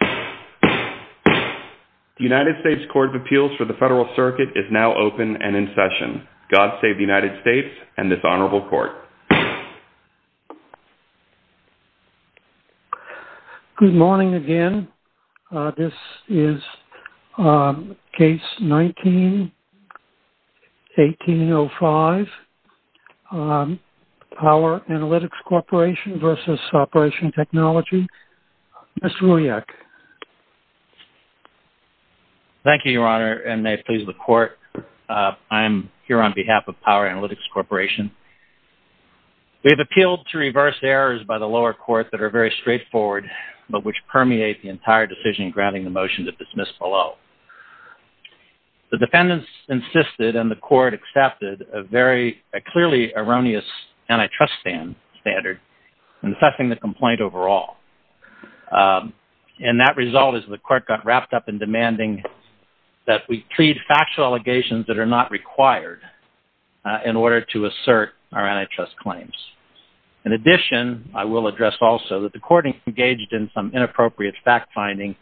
The United States Court of Appeals for the Federal Circuit is now open and in session. God Save the United States and this Honorable Court. Good morning again. This is Case 19-1805, Power Analytics Corporation v. Operation Technology, Mr. Wojciech. Thank you, Your Honor, and may it please the Court, I am here on behalf of Power Analytics Corporation. We have appealed to reverse errors by the lower court that are very straightforward but which permeate the entire decision granting the motion to dismiss below. The defendants insisted and the court accepted a very clearly erroneous antitrust standard in assessing the complaint overall. And that result is the court got wrapped up in demanding that we plead factual allegations that are not required in order to assert our antitrust claims. In addition, I will address also that the court engaged in some inappropriate fact-finding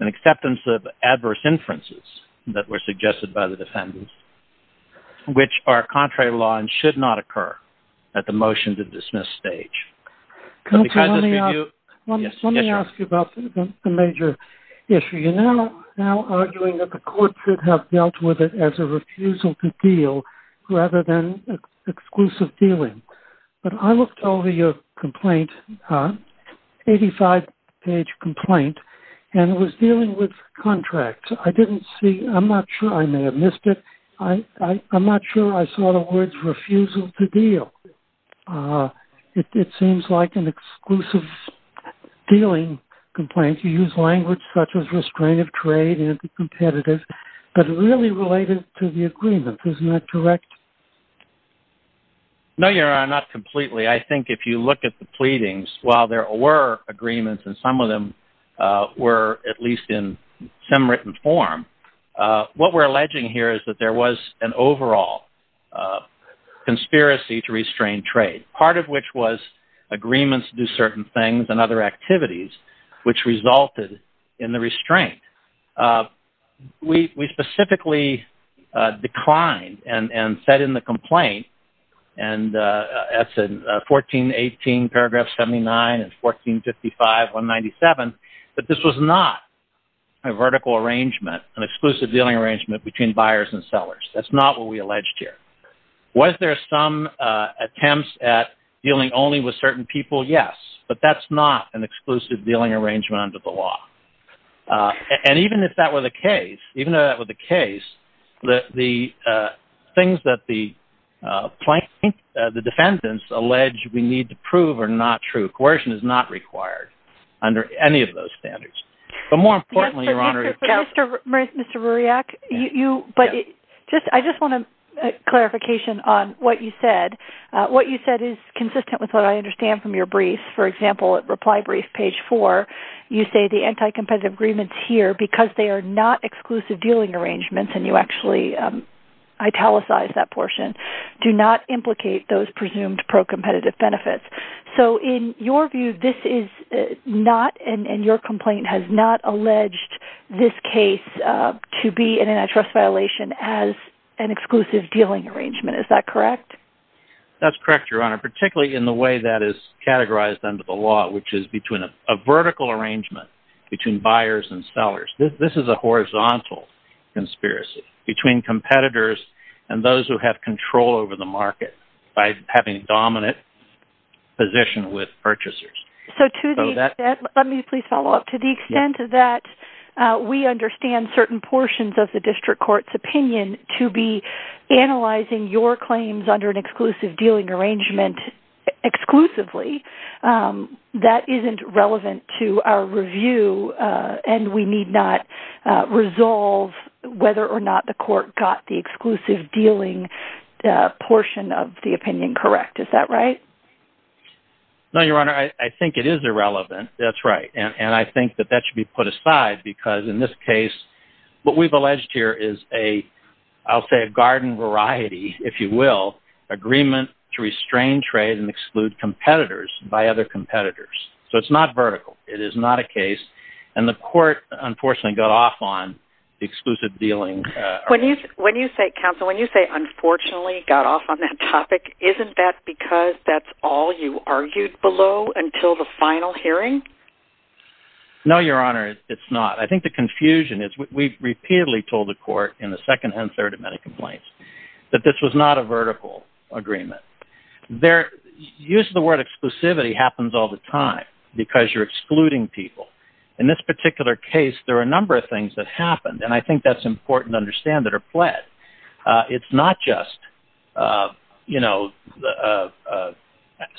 and acceptance of adverse inferences that were suggested by the defendants, which are contrary to law and should not occur at the motion to dismiss stage. Let me ask you about a major issue. You're now arguing that the court should have dealt with it as a refusal to deal rather than exclusive dealing. But I looked over your complaint, 85-page complaint, and it was dealing with contracts. I didn't see... I'm not sure. I may have missed it. I'm not sure I saw the words refusal to deal. It seems like an exclusive dealing complaint. You use language such as restraint of trade, anti-competitive, but really related to the agreement. Is that correct? No, Your Honor, not completely. I think if you look at the pleadings, while there were agreements and some of them were at least in some written form, what we're alleging here is that there was an overall conspiracy to restrain trade, part of which was agreements to do certain things and other activities which resulted in the restraint. We specifically declined and said in the complaint, and that's in 1418 paragraph 79 and 1455, 197, that this was not a vertical arrangement, an exclusive dealing arrangement between buyers and sellers. That's not what we alleged here. Was there some attempts at dealing only with certain people? Yes. But that's not an exclusive dealing arrangement under the law. And even if that were the case, even though that were the case, the things that the plaintiff, the defendants, allege we need to prove are not true. Coercion is not required under any of those standards. But more importantly, Your Honor- Mr. Ruriak, I just want a clarification on what you said. What you said is consistent with what I understand from your brief. For example, at reply brief page four, you say the anti-competitive agreements here, because they are not exclusive dealing arrangements, and you actually italicized that portion, do not implicate those presumed pro-competitive benefits. So in your view, this is not, and your complaint has not alleged this case to be an antitrust violation as an exclusive dealing arrangement. Is that correct? That's correct, Your Honor, particularly in the way that is categorized under the law, which is between a vertical arrangement between buyers and sellers. This is a horizontal conspiracy between competitors and those who have control over the market by having a dominant position with purchasers. So to the extent, let me please follow up, to the extent that we understand certain portions of the district court's opinion to be analyzing your claims under an exclusive dealing arrangement exclusively, that isn't relevant to our review, and we need not resolve whether or not the court got the exclusive dealing portion of the opinion correct. Is that right? No, Your Honor, I think it is irrelevant. That's right. And I think that that should be put aside, because in this case, what we've alleged here is a, I'll say a garden variety, if you will, agreement to restrain trade and exclude competitors by other competitors. So it's not vertical, it is not a case, and the court unfortunately got off on the exclusive dealing arrangement. When you say, counsel, when you say unfortunately got off on that topic, isn't that because that's all you argued below until the final hearing? No, Your Honor, it's not. I think the confusion is we've repeatedly told the court in the second and third amendment complaints that this was not a vertical agreement. Use of the word exclusivity happens all the time, because you're excluding people. In this particular case, there are a number of things that happened, and I think that's important to understand that are pled. It's not just, you know,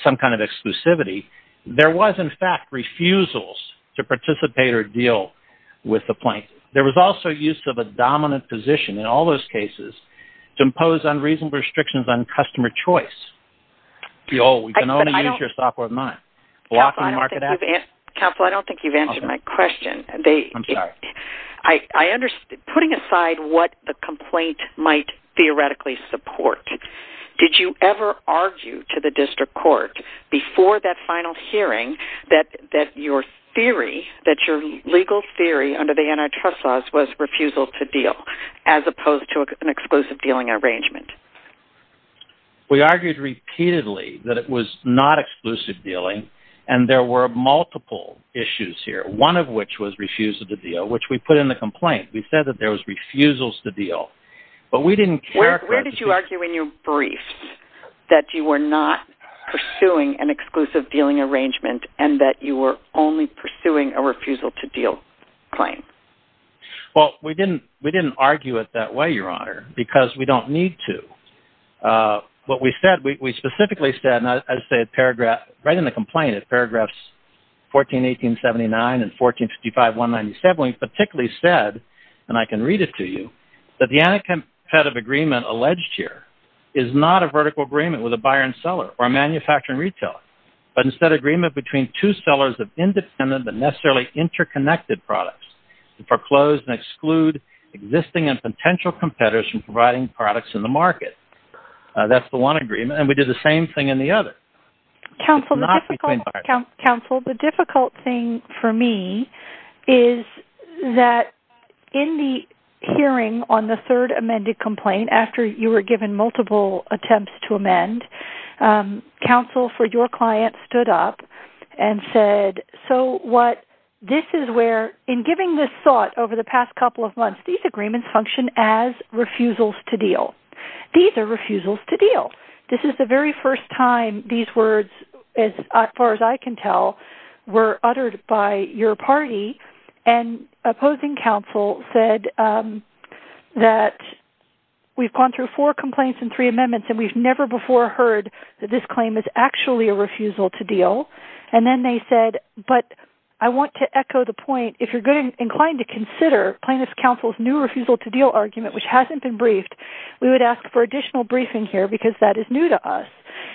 some kind of exclusivity. There was, in fact, refusals to participate or deal with the plaintiff. There was also use of a dominant position in all those cases to impose unreasonable restrictions on customer choice. You can only use your software of mind. Counsel, I don't think you've answered my question. I'm sorry. I understand. Putting aside what the complaint might theoretically support, did you ever argue to the district court before that final hearing that your theory, that your legal theory under the antitrust laws was refusal to deal as opposed to an exclusive dealing arrangement? We argued repeatedly that it was not exclusive dealing, and there were multiple issues here, one of which was refusal to deal, which we put in the complaint. We said that there was refusals to deal. But we didn't care. Where did you argue in your briefs that you were not pursuing an exclusive dealing arrangement and that you were only pursuing a refusal to deal claim? Well, we didn't argue it that way, Your Honor, because we don't need to. What we said, we specifically said, and I say it paragraph, right in the complaint, it's paragraphs 141879 and 1455197, we particularly said, and I can read it to you, that the anticompetitive agreement alleged here is not a vertical agreement with a buyer and seller or a manufacturer and retailer, but instead agreement between two sellers of independent but necessarily interconnected products to foreclose and exclude existing and potential competitors from providing products in the market. That's the one agreement. And we did the same thing in the other. Counsel, the difficult thing for me is that in the hearing on the third amended complaint, after you were given multiple attempts to amend, counsel for your client stood up and said, so this is where, in giving this thought over the past couple of months, these agreements function as refusals to deal. These are refusals to deal. This is the very first time these words, as far as I can tell, were uttered by your party, and opposing counsel said that we've gone through four complaints and three amendments and we've never before heard that this claim is actually a refusal to deal. And then they said, but I want to echo the point, if you're going to be inclined to consider plaintiff's counsel's new refusal to deal argument, which hasn't been briefed, we would ask for additional briefing here because that is new to us.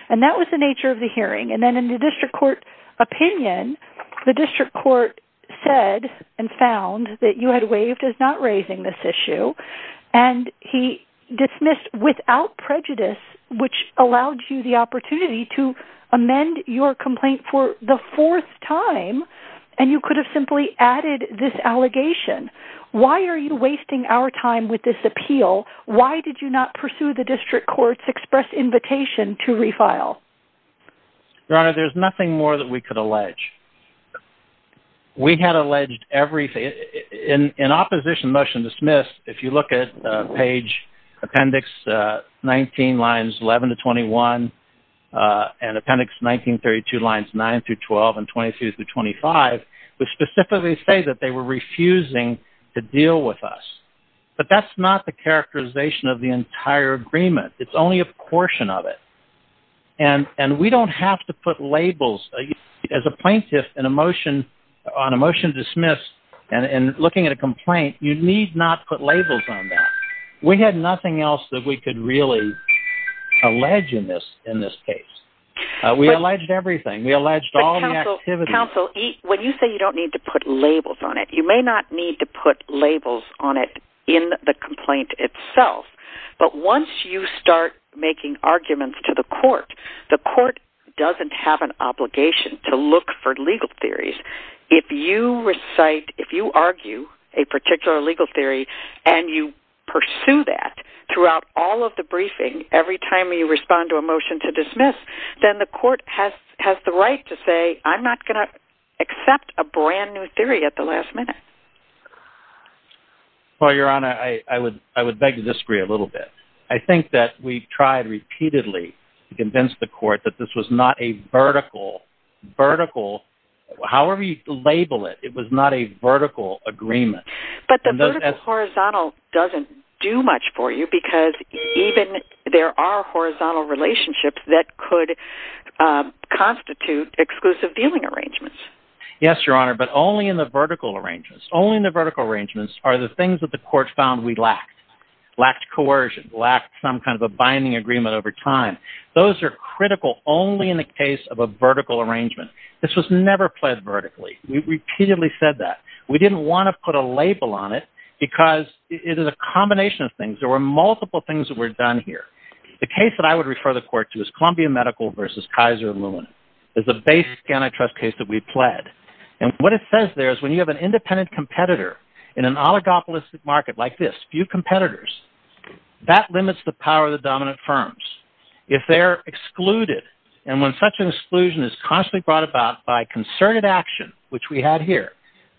And that was the nature of the hearing. And then in the district court opinion, the district court said and found that you had waived as not raising this issue. And he dismissed without prejudice, which allowed you the opportunity to amend your allegation. Why are you wasting our time with this appeal? Why did you not pursue the district court's express invitation to refile? Your Honor, there's nothing more that we could allege. We had alleged everything. In opposition motion dismissed, if you look at page appendix 19, lines 11 to 21, and appendix 1932 lines 9 through 12 and 22 through 25, which specifically say that they were refusing to deal with us, but that's not the characterization of the entire agreement. It's only a portion of it. And we don't have to put labels as a plaintiff on a motion dismissed and looking at a complaint, you need not put labels on that. We had nothing else that we could really allege in this case. We alleged everything. We alleged all the activities. But counsel, when you say you don't need to put labels on it, you may not need to put labels on it in the complaint itself. But once you start making arguments to the court, the court doesn't have an obligation to look for legal theories. If you recite, if you argue a particular legal theory, and you pursue that throughout all of the briefing, every time you respond to a motion to dismiss, then the court has the right to say, I'm not going to accept a brand new theory at the last minute. Well, Your Honor, I would, I would beg to disagree a little bit. I think that we've tried repeatedly to convince the court that this was not a vertical, vertical, however you label it, it was not a vertical agreement. But the vertical-horizontal doesn't do much for you, because even there are horizontal relationships that could constitute exclusive dealing arrangements. Yes, Your Honor, but only in the vertical arrangements. Only in the vertical arrangements are the things that the court found we lacked. Lacked coercion, lacked some kind of a binding agreement over time. Those are critical only in the case of a vertical arrangement. This was never played vertically. We repeatedly said that. We didn't want to put a label on it, because it is a combination of things. There were multiple things that were done here. The case that I would refer the court to is Columbia Medical versus Kaiser and Loon. It's a basic antitrust case that we pled. And what it says there is when you have an independent competitor in an oligopolistic market like this, few competitors, that limits the power of the dominant firms. If they're excluded, and when such an exclusion is constantly brought about by concerted action, which we had here,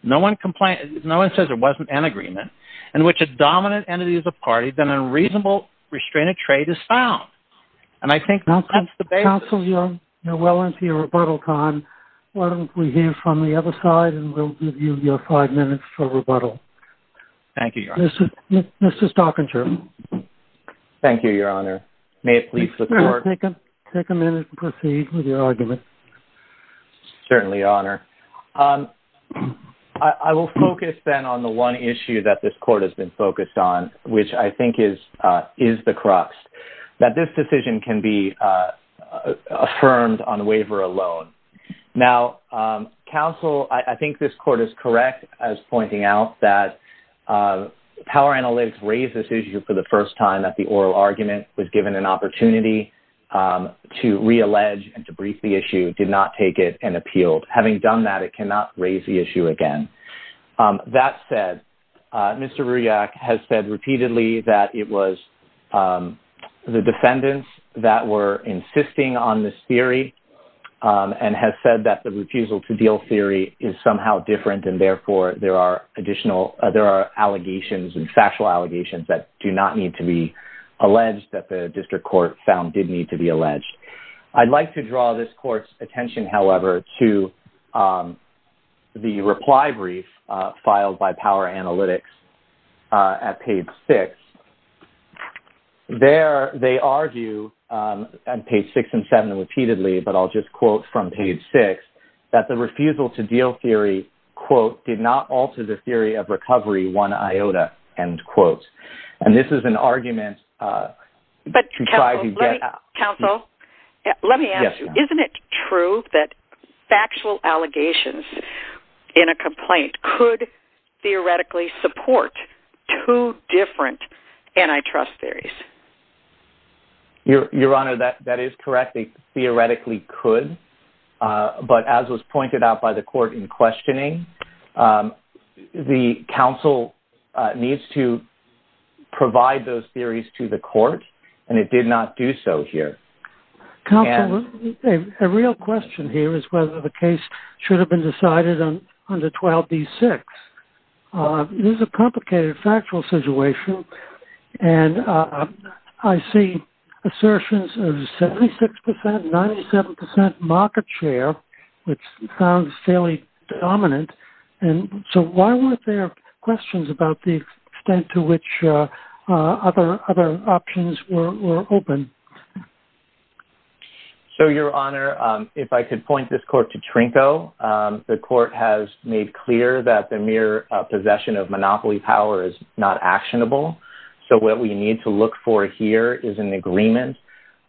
no one says there wasn't an agreement, in which a dominant entity is a party, then a reasonable restrained trade is found. And I think that's the basis. Counsel, you're well into your rebuttal time. Why don't we hear from the other side, and we'll give you your five minutes for rebuttal. Thank you, Your Honor. Mr. Stockinger. Thank you, Your Honor. May it please the court. Take a minute and proceed with your argument. Certainly, Your Honor. I will focus then on the one issue that this court has been focused on, which I think is the crux, that this decision can be affirmed on waiver alone. Now, counsel, I think this court is correct as pointing out that power analytics raised this issue for the first time that the oral argument was given an issue, did not take it, and appealed. Having done that, it cannot raise the issue again. That said, Mr. Rujak has said repeatedly that it was the defendants that were insisting on this theory, and has said that the refusal to deal theory is somehow different, and therefore, there are additional, there are allegations and factual allegations that do not need to be alleged that the district court found did need to be alleged. I'd like to draw this court's attention, however, to the reply brief filed by power analytics at page six. There, they argue, on page six and seven repeatedly, but I'll just quote from page six, that the refusal to deal theory, quote, did not alter the theory of recovery one iota, end quote. And this is an argument to try to get- Let me ask you, isn't it true that factual allegations in a complaint could theoretically support two different antitrust theories? Your Honor, that is correct, they theoretically could, but as was pointed out by the court in questioning, the counsel needs to provide those theories to the court, and it did not do so here. Counsel, a real question here is whether the case should have been decided under 12B-6. This is a complicated factual situation, and I see assertions of 76%, 97% market share, which sounds fairly dominant, and so why weren't there questions about the extent to which other options were open? So, Your Honor, if I could point this court to Trinko, the court has made clear that the mere possession of monopoly power is not actionable, so what we need to look for here is an agreement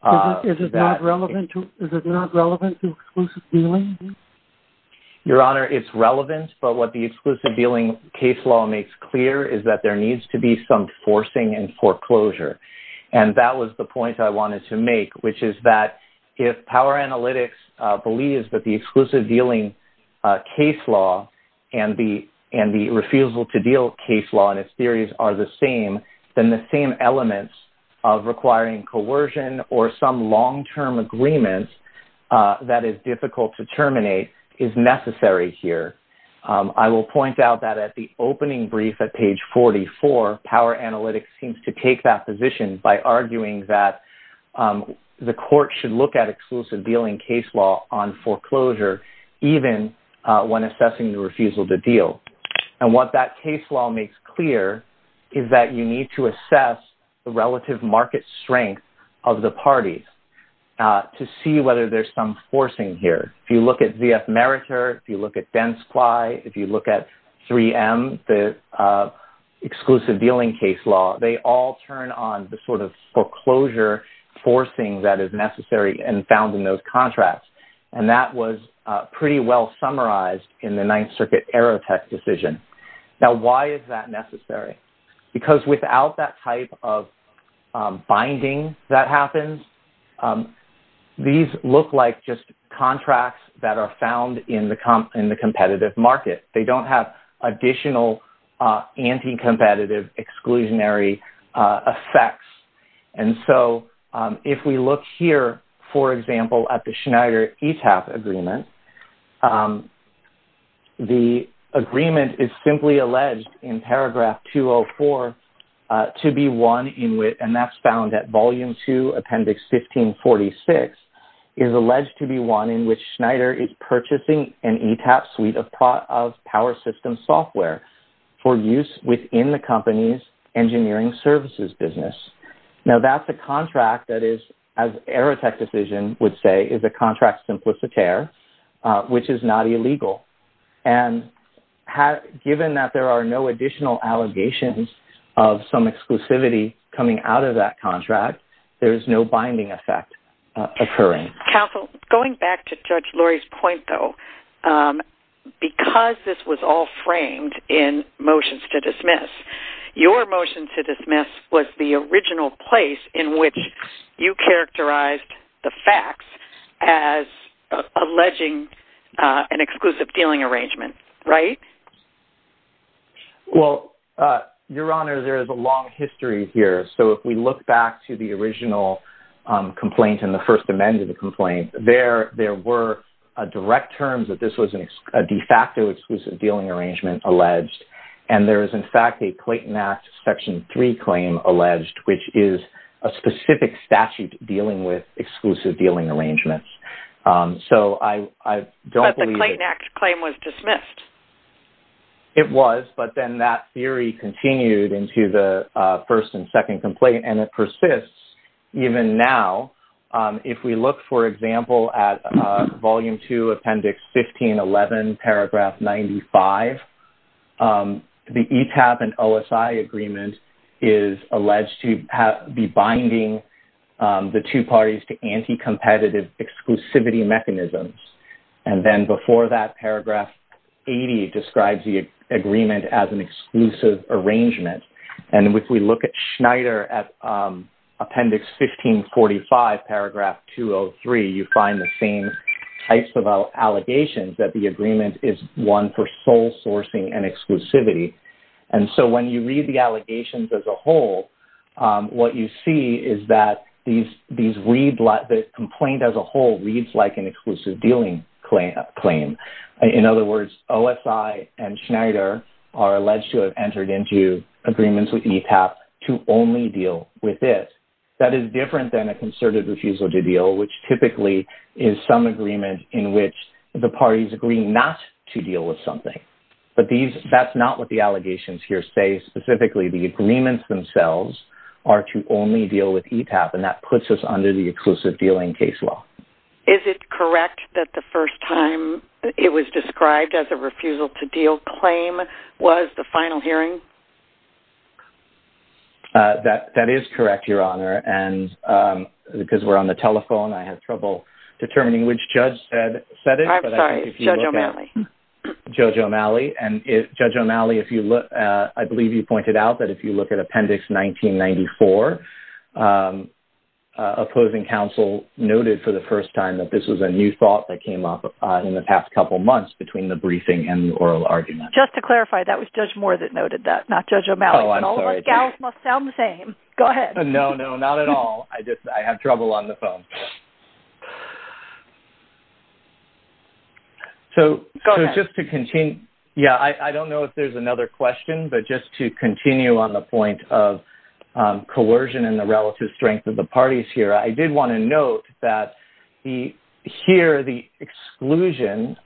that- Is it not relevant to exclusive dealing? Your Honor, it's relevant, but what the exclusive dealing case law makes clear is that there needs to be some forcing and foreclosure, and that was the point I was trying to make here, that if Power Analytics believes that the exclusive dealing case law and the refusal to deal case law and its theories are the same, then the same elements of requiring coercion or some long-term agreement that is difficult to terminate is necessary here. I will point out that at the opening brief at page 44, Power Analytics seems to take that position by arguing that the court should look at exclusive dealing case law on foreclosure, even when assessing the refusal to deal, and what that case law makes clear is that you need to assess the relative market strength of the parties to see whether there's some forcing here. If you look at ZF Meritor, if you look at Densquai, if you look at 3M, the parties all turn on the sort of foreclosure forcing that is necessary and found in those contracts, and that was pretty well summarized in the Ninth Circuit Aerotech decision. Now, why is that necessary? Because without that type of binding that happens, these look like just contracts that are found in the competitive market. They don't have additional anti-competitive exclusionary effects. And so, if we look here, for example, at the Schneider ETAP agreement, the agreement is simply alleged in paragraph 204 to be one in which, and that's found at volume two, appendix 1546, is alleged to be one in which Schneider is purchasing an ETAP suite of power system software for use within the company's engineering services business. Now, that's a contract that is, as Aerotech decision would say, is a contract simplicitare, which is not illegal. And given that there are no additional allegations of some exclusivity coming out of that contract, there is no binding effect occurring. Counsel, going back to Judge Lurie's point, though, because this was all framed in motions to dismiss, your motion to dismiss was the original place in which you characterized the facts as alleging an exclusive dealing arrangement. Right? Well, Your Honor, there is a long history here. So, if we look back to the original complaint in the First Amendment, to the complaint, there were direct terms that this was a de facto exclusive dealing arrangement alleged, and there is, in fact, a Clayton Act section three claim alleged, which is a specific statute dealing with exclusive dealing arrangements. So, I don't believe that... But the Clayton Act claim was dismissed. It was, but then that theory continued into the first and second complaint, and it persists even now. If we look, for example, at Volume Two, Appendix 1511, Paragraph 95, the ETAB and OSI agreement is alleged to be binding the two parties to anti-competitive exclusivity mechanisms. And then before that, Paragraph 80 describes the agreement as an exclusive arrangement, and if we look at Schneider at Appendix 1545, Paragraph 203, you find the same types of allegations that the agreement is one for sole sourcing and exclusivity. And so, when you read the allegations as a whole, what you see is that the complaint as a whole reads like an exclusive dealing claim. In other words, OSI and Schneider are alleged to have entered into agreements with ETAB to only deal with this. That is different than a concerted refusal to deal, which typically is some agreement in which the parties agree not to deal with something. But that's not what the allegations here say. Specifically, the agreements themselves are to only deal with ETAB, and that puts us under the exclusive dealing case law. Is it correct that the first time it was described as a refusal to deal claim was the final hearing? That is correct, Your Honor. And because we're on the telephone, I had trouble determining which judge said it. I'm sorry, Judge O'Malley. Judge O'Malley. And Judge O'Malley, if you look, I believe you pointed out that if you look at the first time, that this was a new thought that came up in the past couple of months between the briefing and the oral argument. Just to clarify, that was Judge Moore that noted that, not Judge O'Malley. Oh, I'm sorry, Judge. And all of us gals must sound the same. Go ahead. No, no, not at all. I just, I have trouble on the phone. So, just to continue, yeah, I don't know if there's another question, but just to continue on the point of coercion and the relative strength of the parties here, I did want to note that here, the exclusion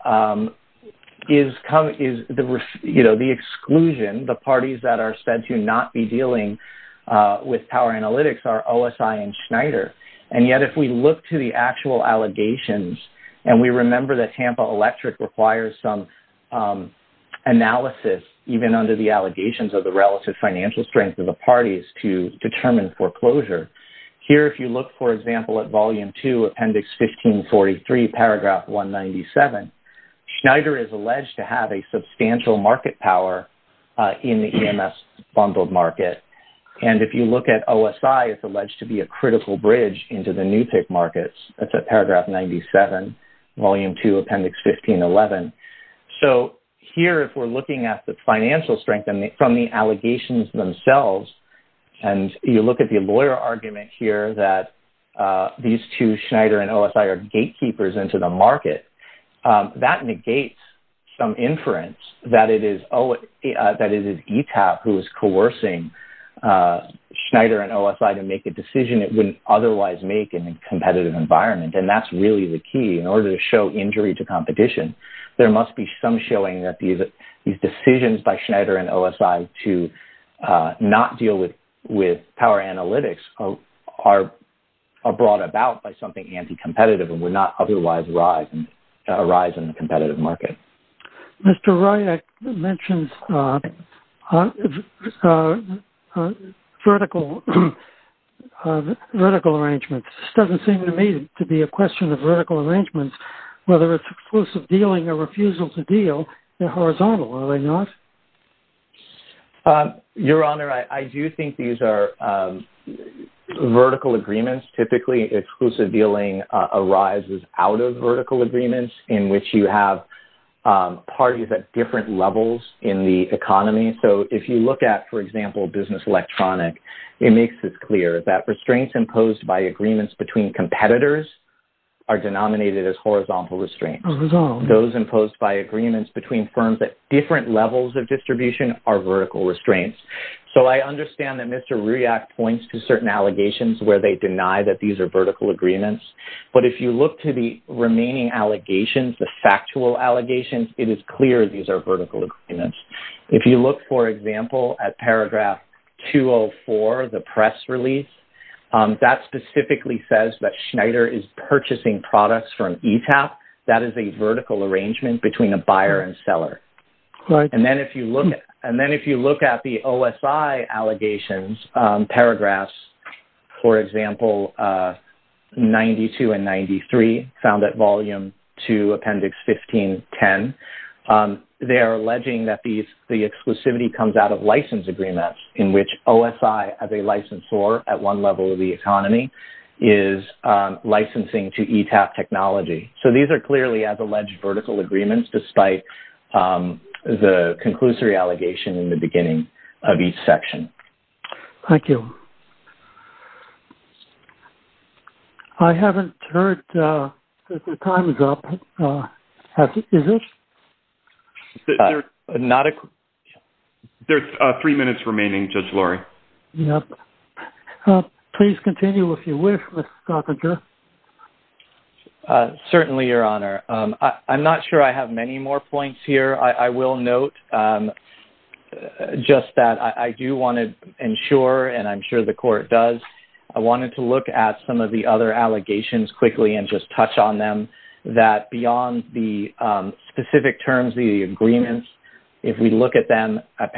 is, you know, the exclusion, the parties that are said to not be dealing with power analytics are OSI and Schneider. And yet, if we look to the actual allegations, and we remember that Tampa Electric requires some analysis, even under the allegations of the relative financial strength of the parties to determine foreclosure. Here, if you look, for example, at Volume 2, Appendix 1543, Paragraph 197, Schneider is alleged to have a substantial market power in the EMS bundled market. And if you look at OSI, it's alleged to be a critical bridge into the new tick markets, that's at Paragraph 97, Volume 2, Appendix 1511. So here, if we're looking at the financial strength from the allegations themselves, and you look at the lawyer argument here that these two, Schneider and OSI, are gatekeepers into the market, that negates some inference that it is ETAP who is coercing Schneider and OSI to make a decision it wouldn't otherwise make in a competitive environment. And that's really the key in order to show injury to competition. There must be some showing that these decisions by Schneider and OSI to not deal with power analytics are brought about by something anti-competitive and would not otherwise arise in the competitive market. Mr. Ryak mentions vertical arrangements. This doesn't seem to me to be a question of vertical arrangements, whether it's exclusive dealing or refusal to deal, they're horizontal, are they not? Your Honor, I do think these are vertical agreements. Typically, exclusive dealing arises out of vertical agreements in which you have parties at different levels in the economy. So if you look at, for example, business electronic, it makes it clear that restraints imposed by agreements between competitors are denominated as horizontal restraints, those imposed by agreements between firms at different levels of distribution are vertical restraints. So I understand that Mr. Ryak points to certain allegations where they deny that these are vertical agreements, but if you look to the remaining allegations, the factual allegations, it is clear these are vertical agreements. If you look, for example, at paragraph 204, the press release, that specifically says that Schneider is purchasing products from ETAP, that is a vertical arrangement between a buyer and seller. And then if you look at the OSI allegations, paragraphs, for example, 92 and 93, found that volume two, appendix 1510, they are alleging that the exclusivity comes out of license agreements in which OSI as a licensor at one level of the economy is licensing to ETAP technology. So these are clearly as alleged vertical agreements, despite the conclusory allegation in the beginning of each section. Thank you. I haven't heard that the time is up, is it? There's three minutes remaining, Judge Lurie. Yep. Please continue if you wish, Mr. Certainly, Your Honor. I'm not sure I have many more points here. I will note just that I do want to ensure, and I'm sure the court does, I wanted to look at some of the other allegations quickly and just touch on them, that beyond the specific terms, the agreements, if we look at them at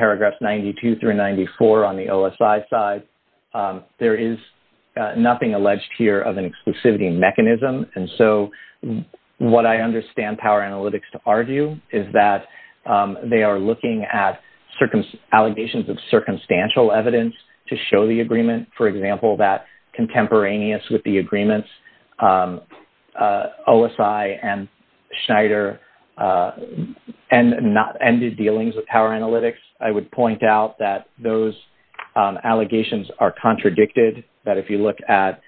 there is nothing alleged here of an exclusivity mechanism. And so what I understand Power Analytics to argue is that they are looking at allegations of circumstantial evidence to show the agreement. For example, that contemporaneous with the agreements, OSI and Schneider, and not ended dealings with Power Analytics. I would point out that those allegations are contradicted, that if you look at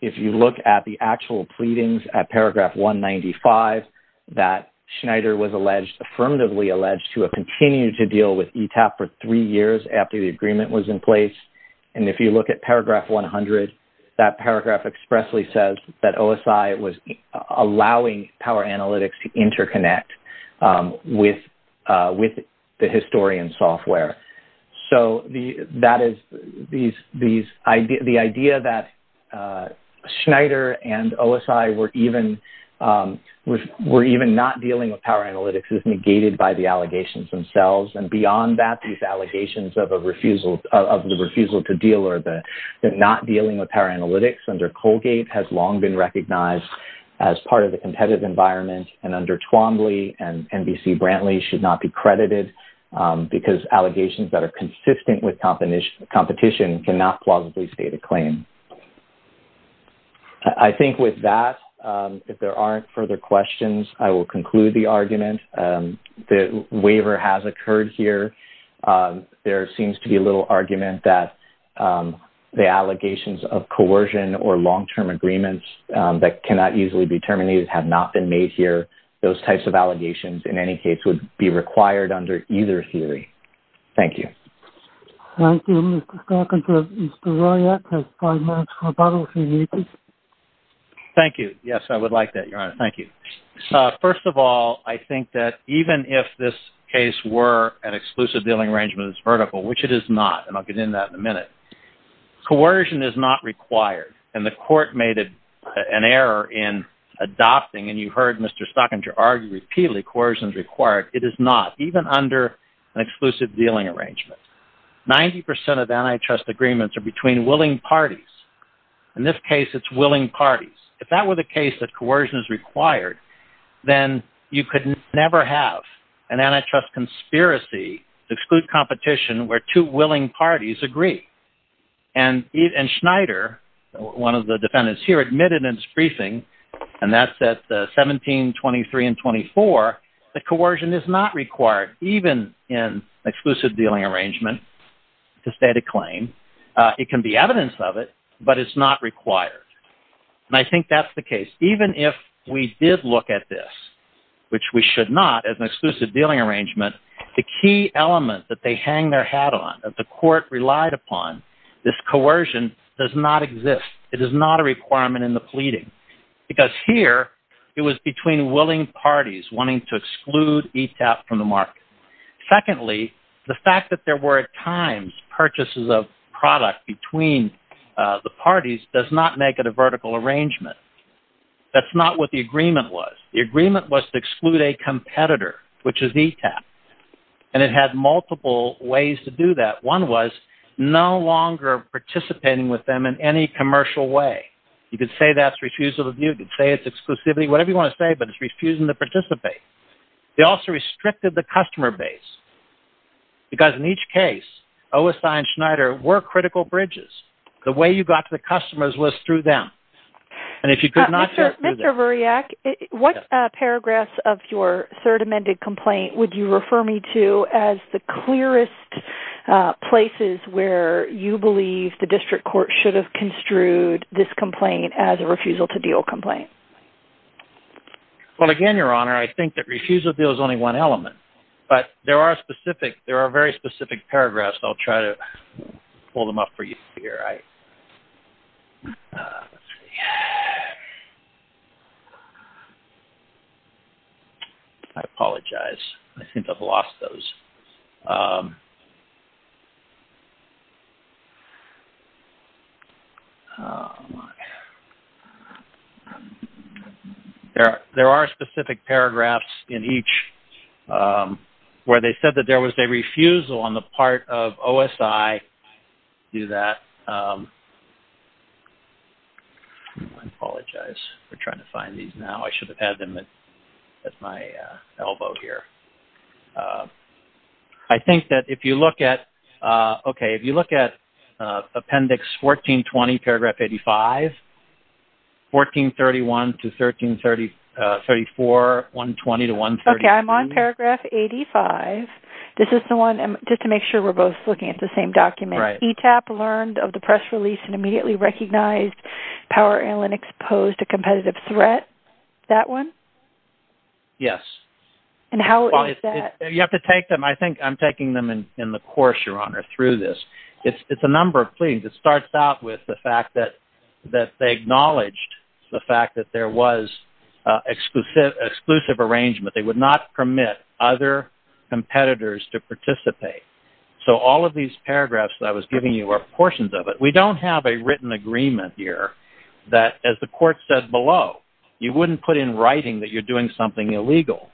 the actual pleadings at paragraph 195, that Schneider was alleged, affirmatively alleged to have continued to deal with ETAP for three years after the agreement was in place, and if you look at paragraph 100, that paragraph expressly says that OSI was allowing Power Analytics to interconnect with the historian software. So the idea that Schneider and OSI were even not dealing with Power Analytics is negated by the allegations themselves. And beyond that, these allegations of the refusal to deal or the not dealing with Power Analytics under Colgate has long been recognized as part of the competitive environment, and under Twombly and NBC Brantley should not be credited because allegations that are consistent with competition cannot plausibly state a claim. I think with that, if there aren't further questions, I will conclude the argument that waiver has occurred here. There seems to be a little argument that the allegations of coercion or long-term agreements that cannot easily be terminated have not been made here. Those types of allegations, in any case, would be required under either theory. Thank you. Thank you. Yes, I would like that, Your Honor. Thank you. First of all, I think that even if this case were an exclusive dealing arrangement that's vertical, which it is not, and I'll get into that in a minute, coercion is not required. And the court made an error in adopting, and you heard Mr. Stockinger argue repeatedly, coercion is required. It is not, even under an exclusive dealing arrangement. 90% of antitrust agreements are between willing parties. In this case, it's willing parties. If that were the case, that coercion is required, then you could never have an antitrust conspiracy to exclude competition where two willing parties agree. And Schneider, one of the defendants here, admitted in his briefing, and that's at the 17, 23, and 24, that coercion is not required, even in exclusive dealing arrangement to state a claim. It can be evidence of it, but it's not required. And I think that's the case. Even if we did look at this, which we should not, as an exclusive dealing arrangement, the key element that they hang their hat on, that the court relied upon, this coercion does not exist. It is not a requirement in the pleading. Because here, it was between willing parties wanting to exclude ETAP from the market. Secondly, the fact that there were at times purchases of product between the two parties, and they wanted to make it a vertical arrangement, that's not what the agreement was. The agreement was to exclude a competitor, which is ETAP. And it had multiple ways to do that. One was no longer participating with them in any commercial way. You could say that's refusal of view. You could say it's exclusivity. Whatever you want to say, but it's refusing to participate. They also restricted the customer base. Because in each case, OSI and Schneider were critical bridges. The way you got to the customer's list through them. And if you could not do that. Mr. Vuriak, what paragraphs of your third amended complaint would you refer me to as the clearest places where you believe the district court should have construed this complaint as a refusal to deal complaint? Well, again, Your Honor, I think that refusal to deal is only one element, but there are specific, there are very specific paragraphs, I'll try to pull them up for you here. I apologize. I think I've lost those. There are specific paragraphs in each where they said that there was a refusal on the part of OSI to do that. I apologize. We're trying to find these now. I should have had them at my elbow here. I think that if you look at, okay, if you look at Appendix 1420, Paragraph 85, 1431 to 1334, 120 to 132. Okay. I'm on Paragraph 85. This is the one, just to make sure we're both looking at the same document, ETAP learned of the press release and immediately recognized Power Analytics posed a competitive threat. That one? Yes. And how is that? You have to take them. I think I'm taking them in the course, Your Honor, through this. It's a number of pleadings. It starts out with the fact that they acknowledged the fact that there was exclusive arrangement. That they would not permit other competitors to participate. So all of these paragraphs that I was giving you are portions of it. We don't have a written agreement here that, as the court said below, you wouldn't put in writing that you're doing something illegal.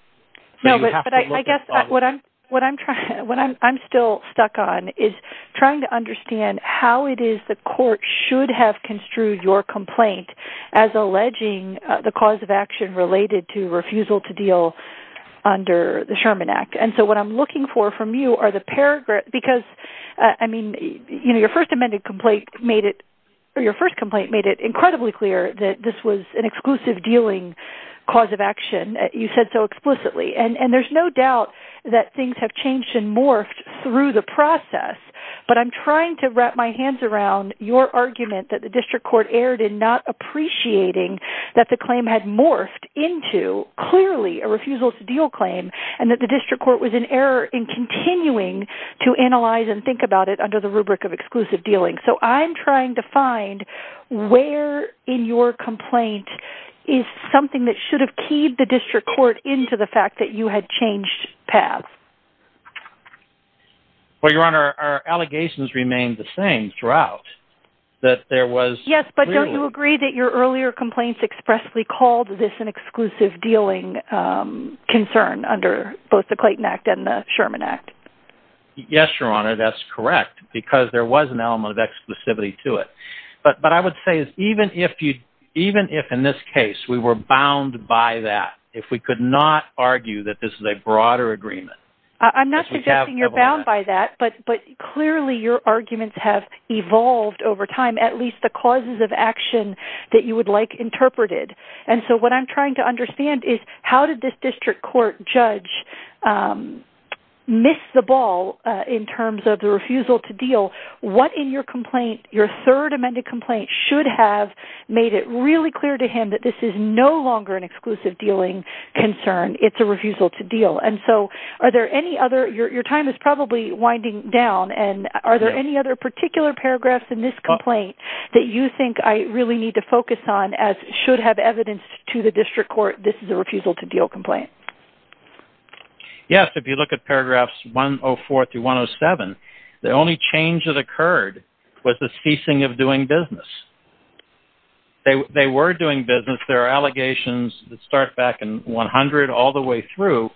No, but I guess what I'm still stuck on is trying to understand how it is the court should have construed your complaint as alleging the cause of action related to refusal to deal under the Sherman Act. And so what I'm looking for from you are the paragraph, because, I mean, your first amended complaint made it, or your first complaint made it incredibly clear that this was an exclusive dealing cause of action, you said so explicitly. And there's no doubt that things have changed and morphed through the process, but I'm trying to wrap my hands around your argument that the district court erred in not appreciating that the claim had morphed into clearly a refusal to deal claim, and that the district court was in error in continuing to analyze and think about it under the rubric of exclusive dealing. So I'm trying to find where in your complaint is something that should have keyed the district court into the fact that you had changed paths. Well, Your Honor, our allegations remained the same throughout, that there was... Yes, but don't you agree that your earlier complaints expressly called this an exclusive dealing concern under both the Clayton Act and the Sherman Act? Yes, Your Honor, that's correct, because there was an element of exclusivity to it. But what I would say is even if you, even if in this case, we were bound by that, if we could not argue that this is a broader agreement... I'm not suggesting you're bound by that, but clearly your arguments have evolved over time, at least the causes of action that you would like interpreted. And so what I'm trying to understand is how did this district court judge miss the ball in terms of the refusal to deal? What in your complaint, your third amended complaint, should have made it really clear to him that this is no longer an exclusive dealing concern? It's a refusal to deal. And so are there any other... Your time is probably winding down. And are there any other particular paragraphs in this complaint that you think I really need to focus on, as should have evidence to the district court, this is a refusal to deal complaint? Yes, if you look at paragraphs 104 through 107, the only change that occurred was the ceasing of doing business. They were doing business. There are allegations that start back in 100, all the way through,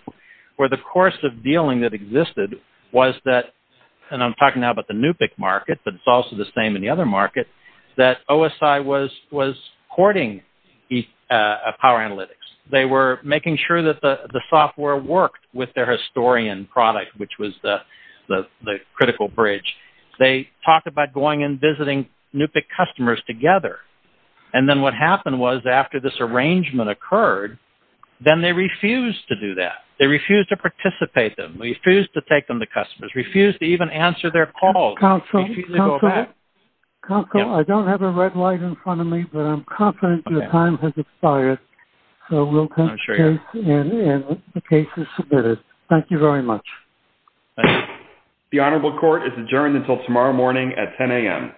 where the course of dealing that existed was that, and I'm talking now about the NUPIC market, but it's also the same in the other market, that OSI was hoarding power analytics. They were making sure that the software worked with their historian product, which was the critical bridge. They talked about going and visiting NUPIC customers together. And then what happened was after this arrangement occurred, then they refused to do that. They refused to participate them. They refused to take them to customers, refused to even answer their calls. Counsel, counsel, counsel, I don't have a red light in front of me, but I'm confident your time has expired. So we'll continue and the case is submitted. Thank you very much. The Honorable Court is adjourned until tomorrow morning at 10 a.m.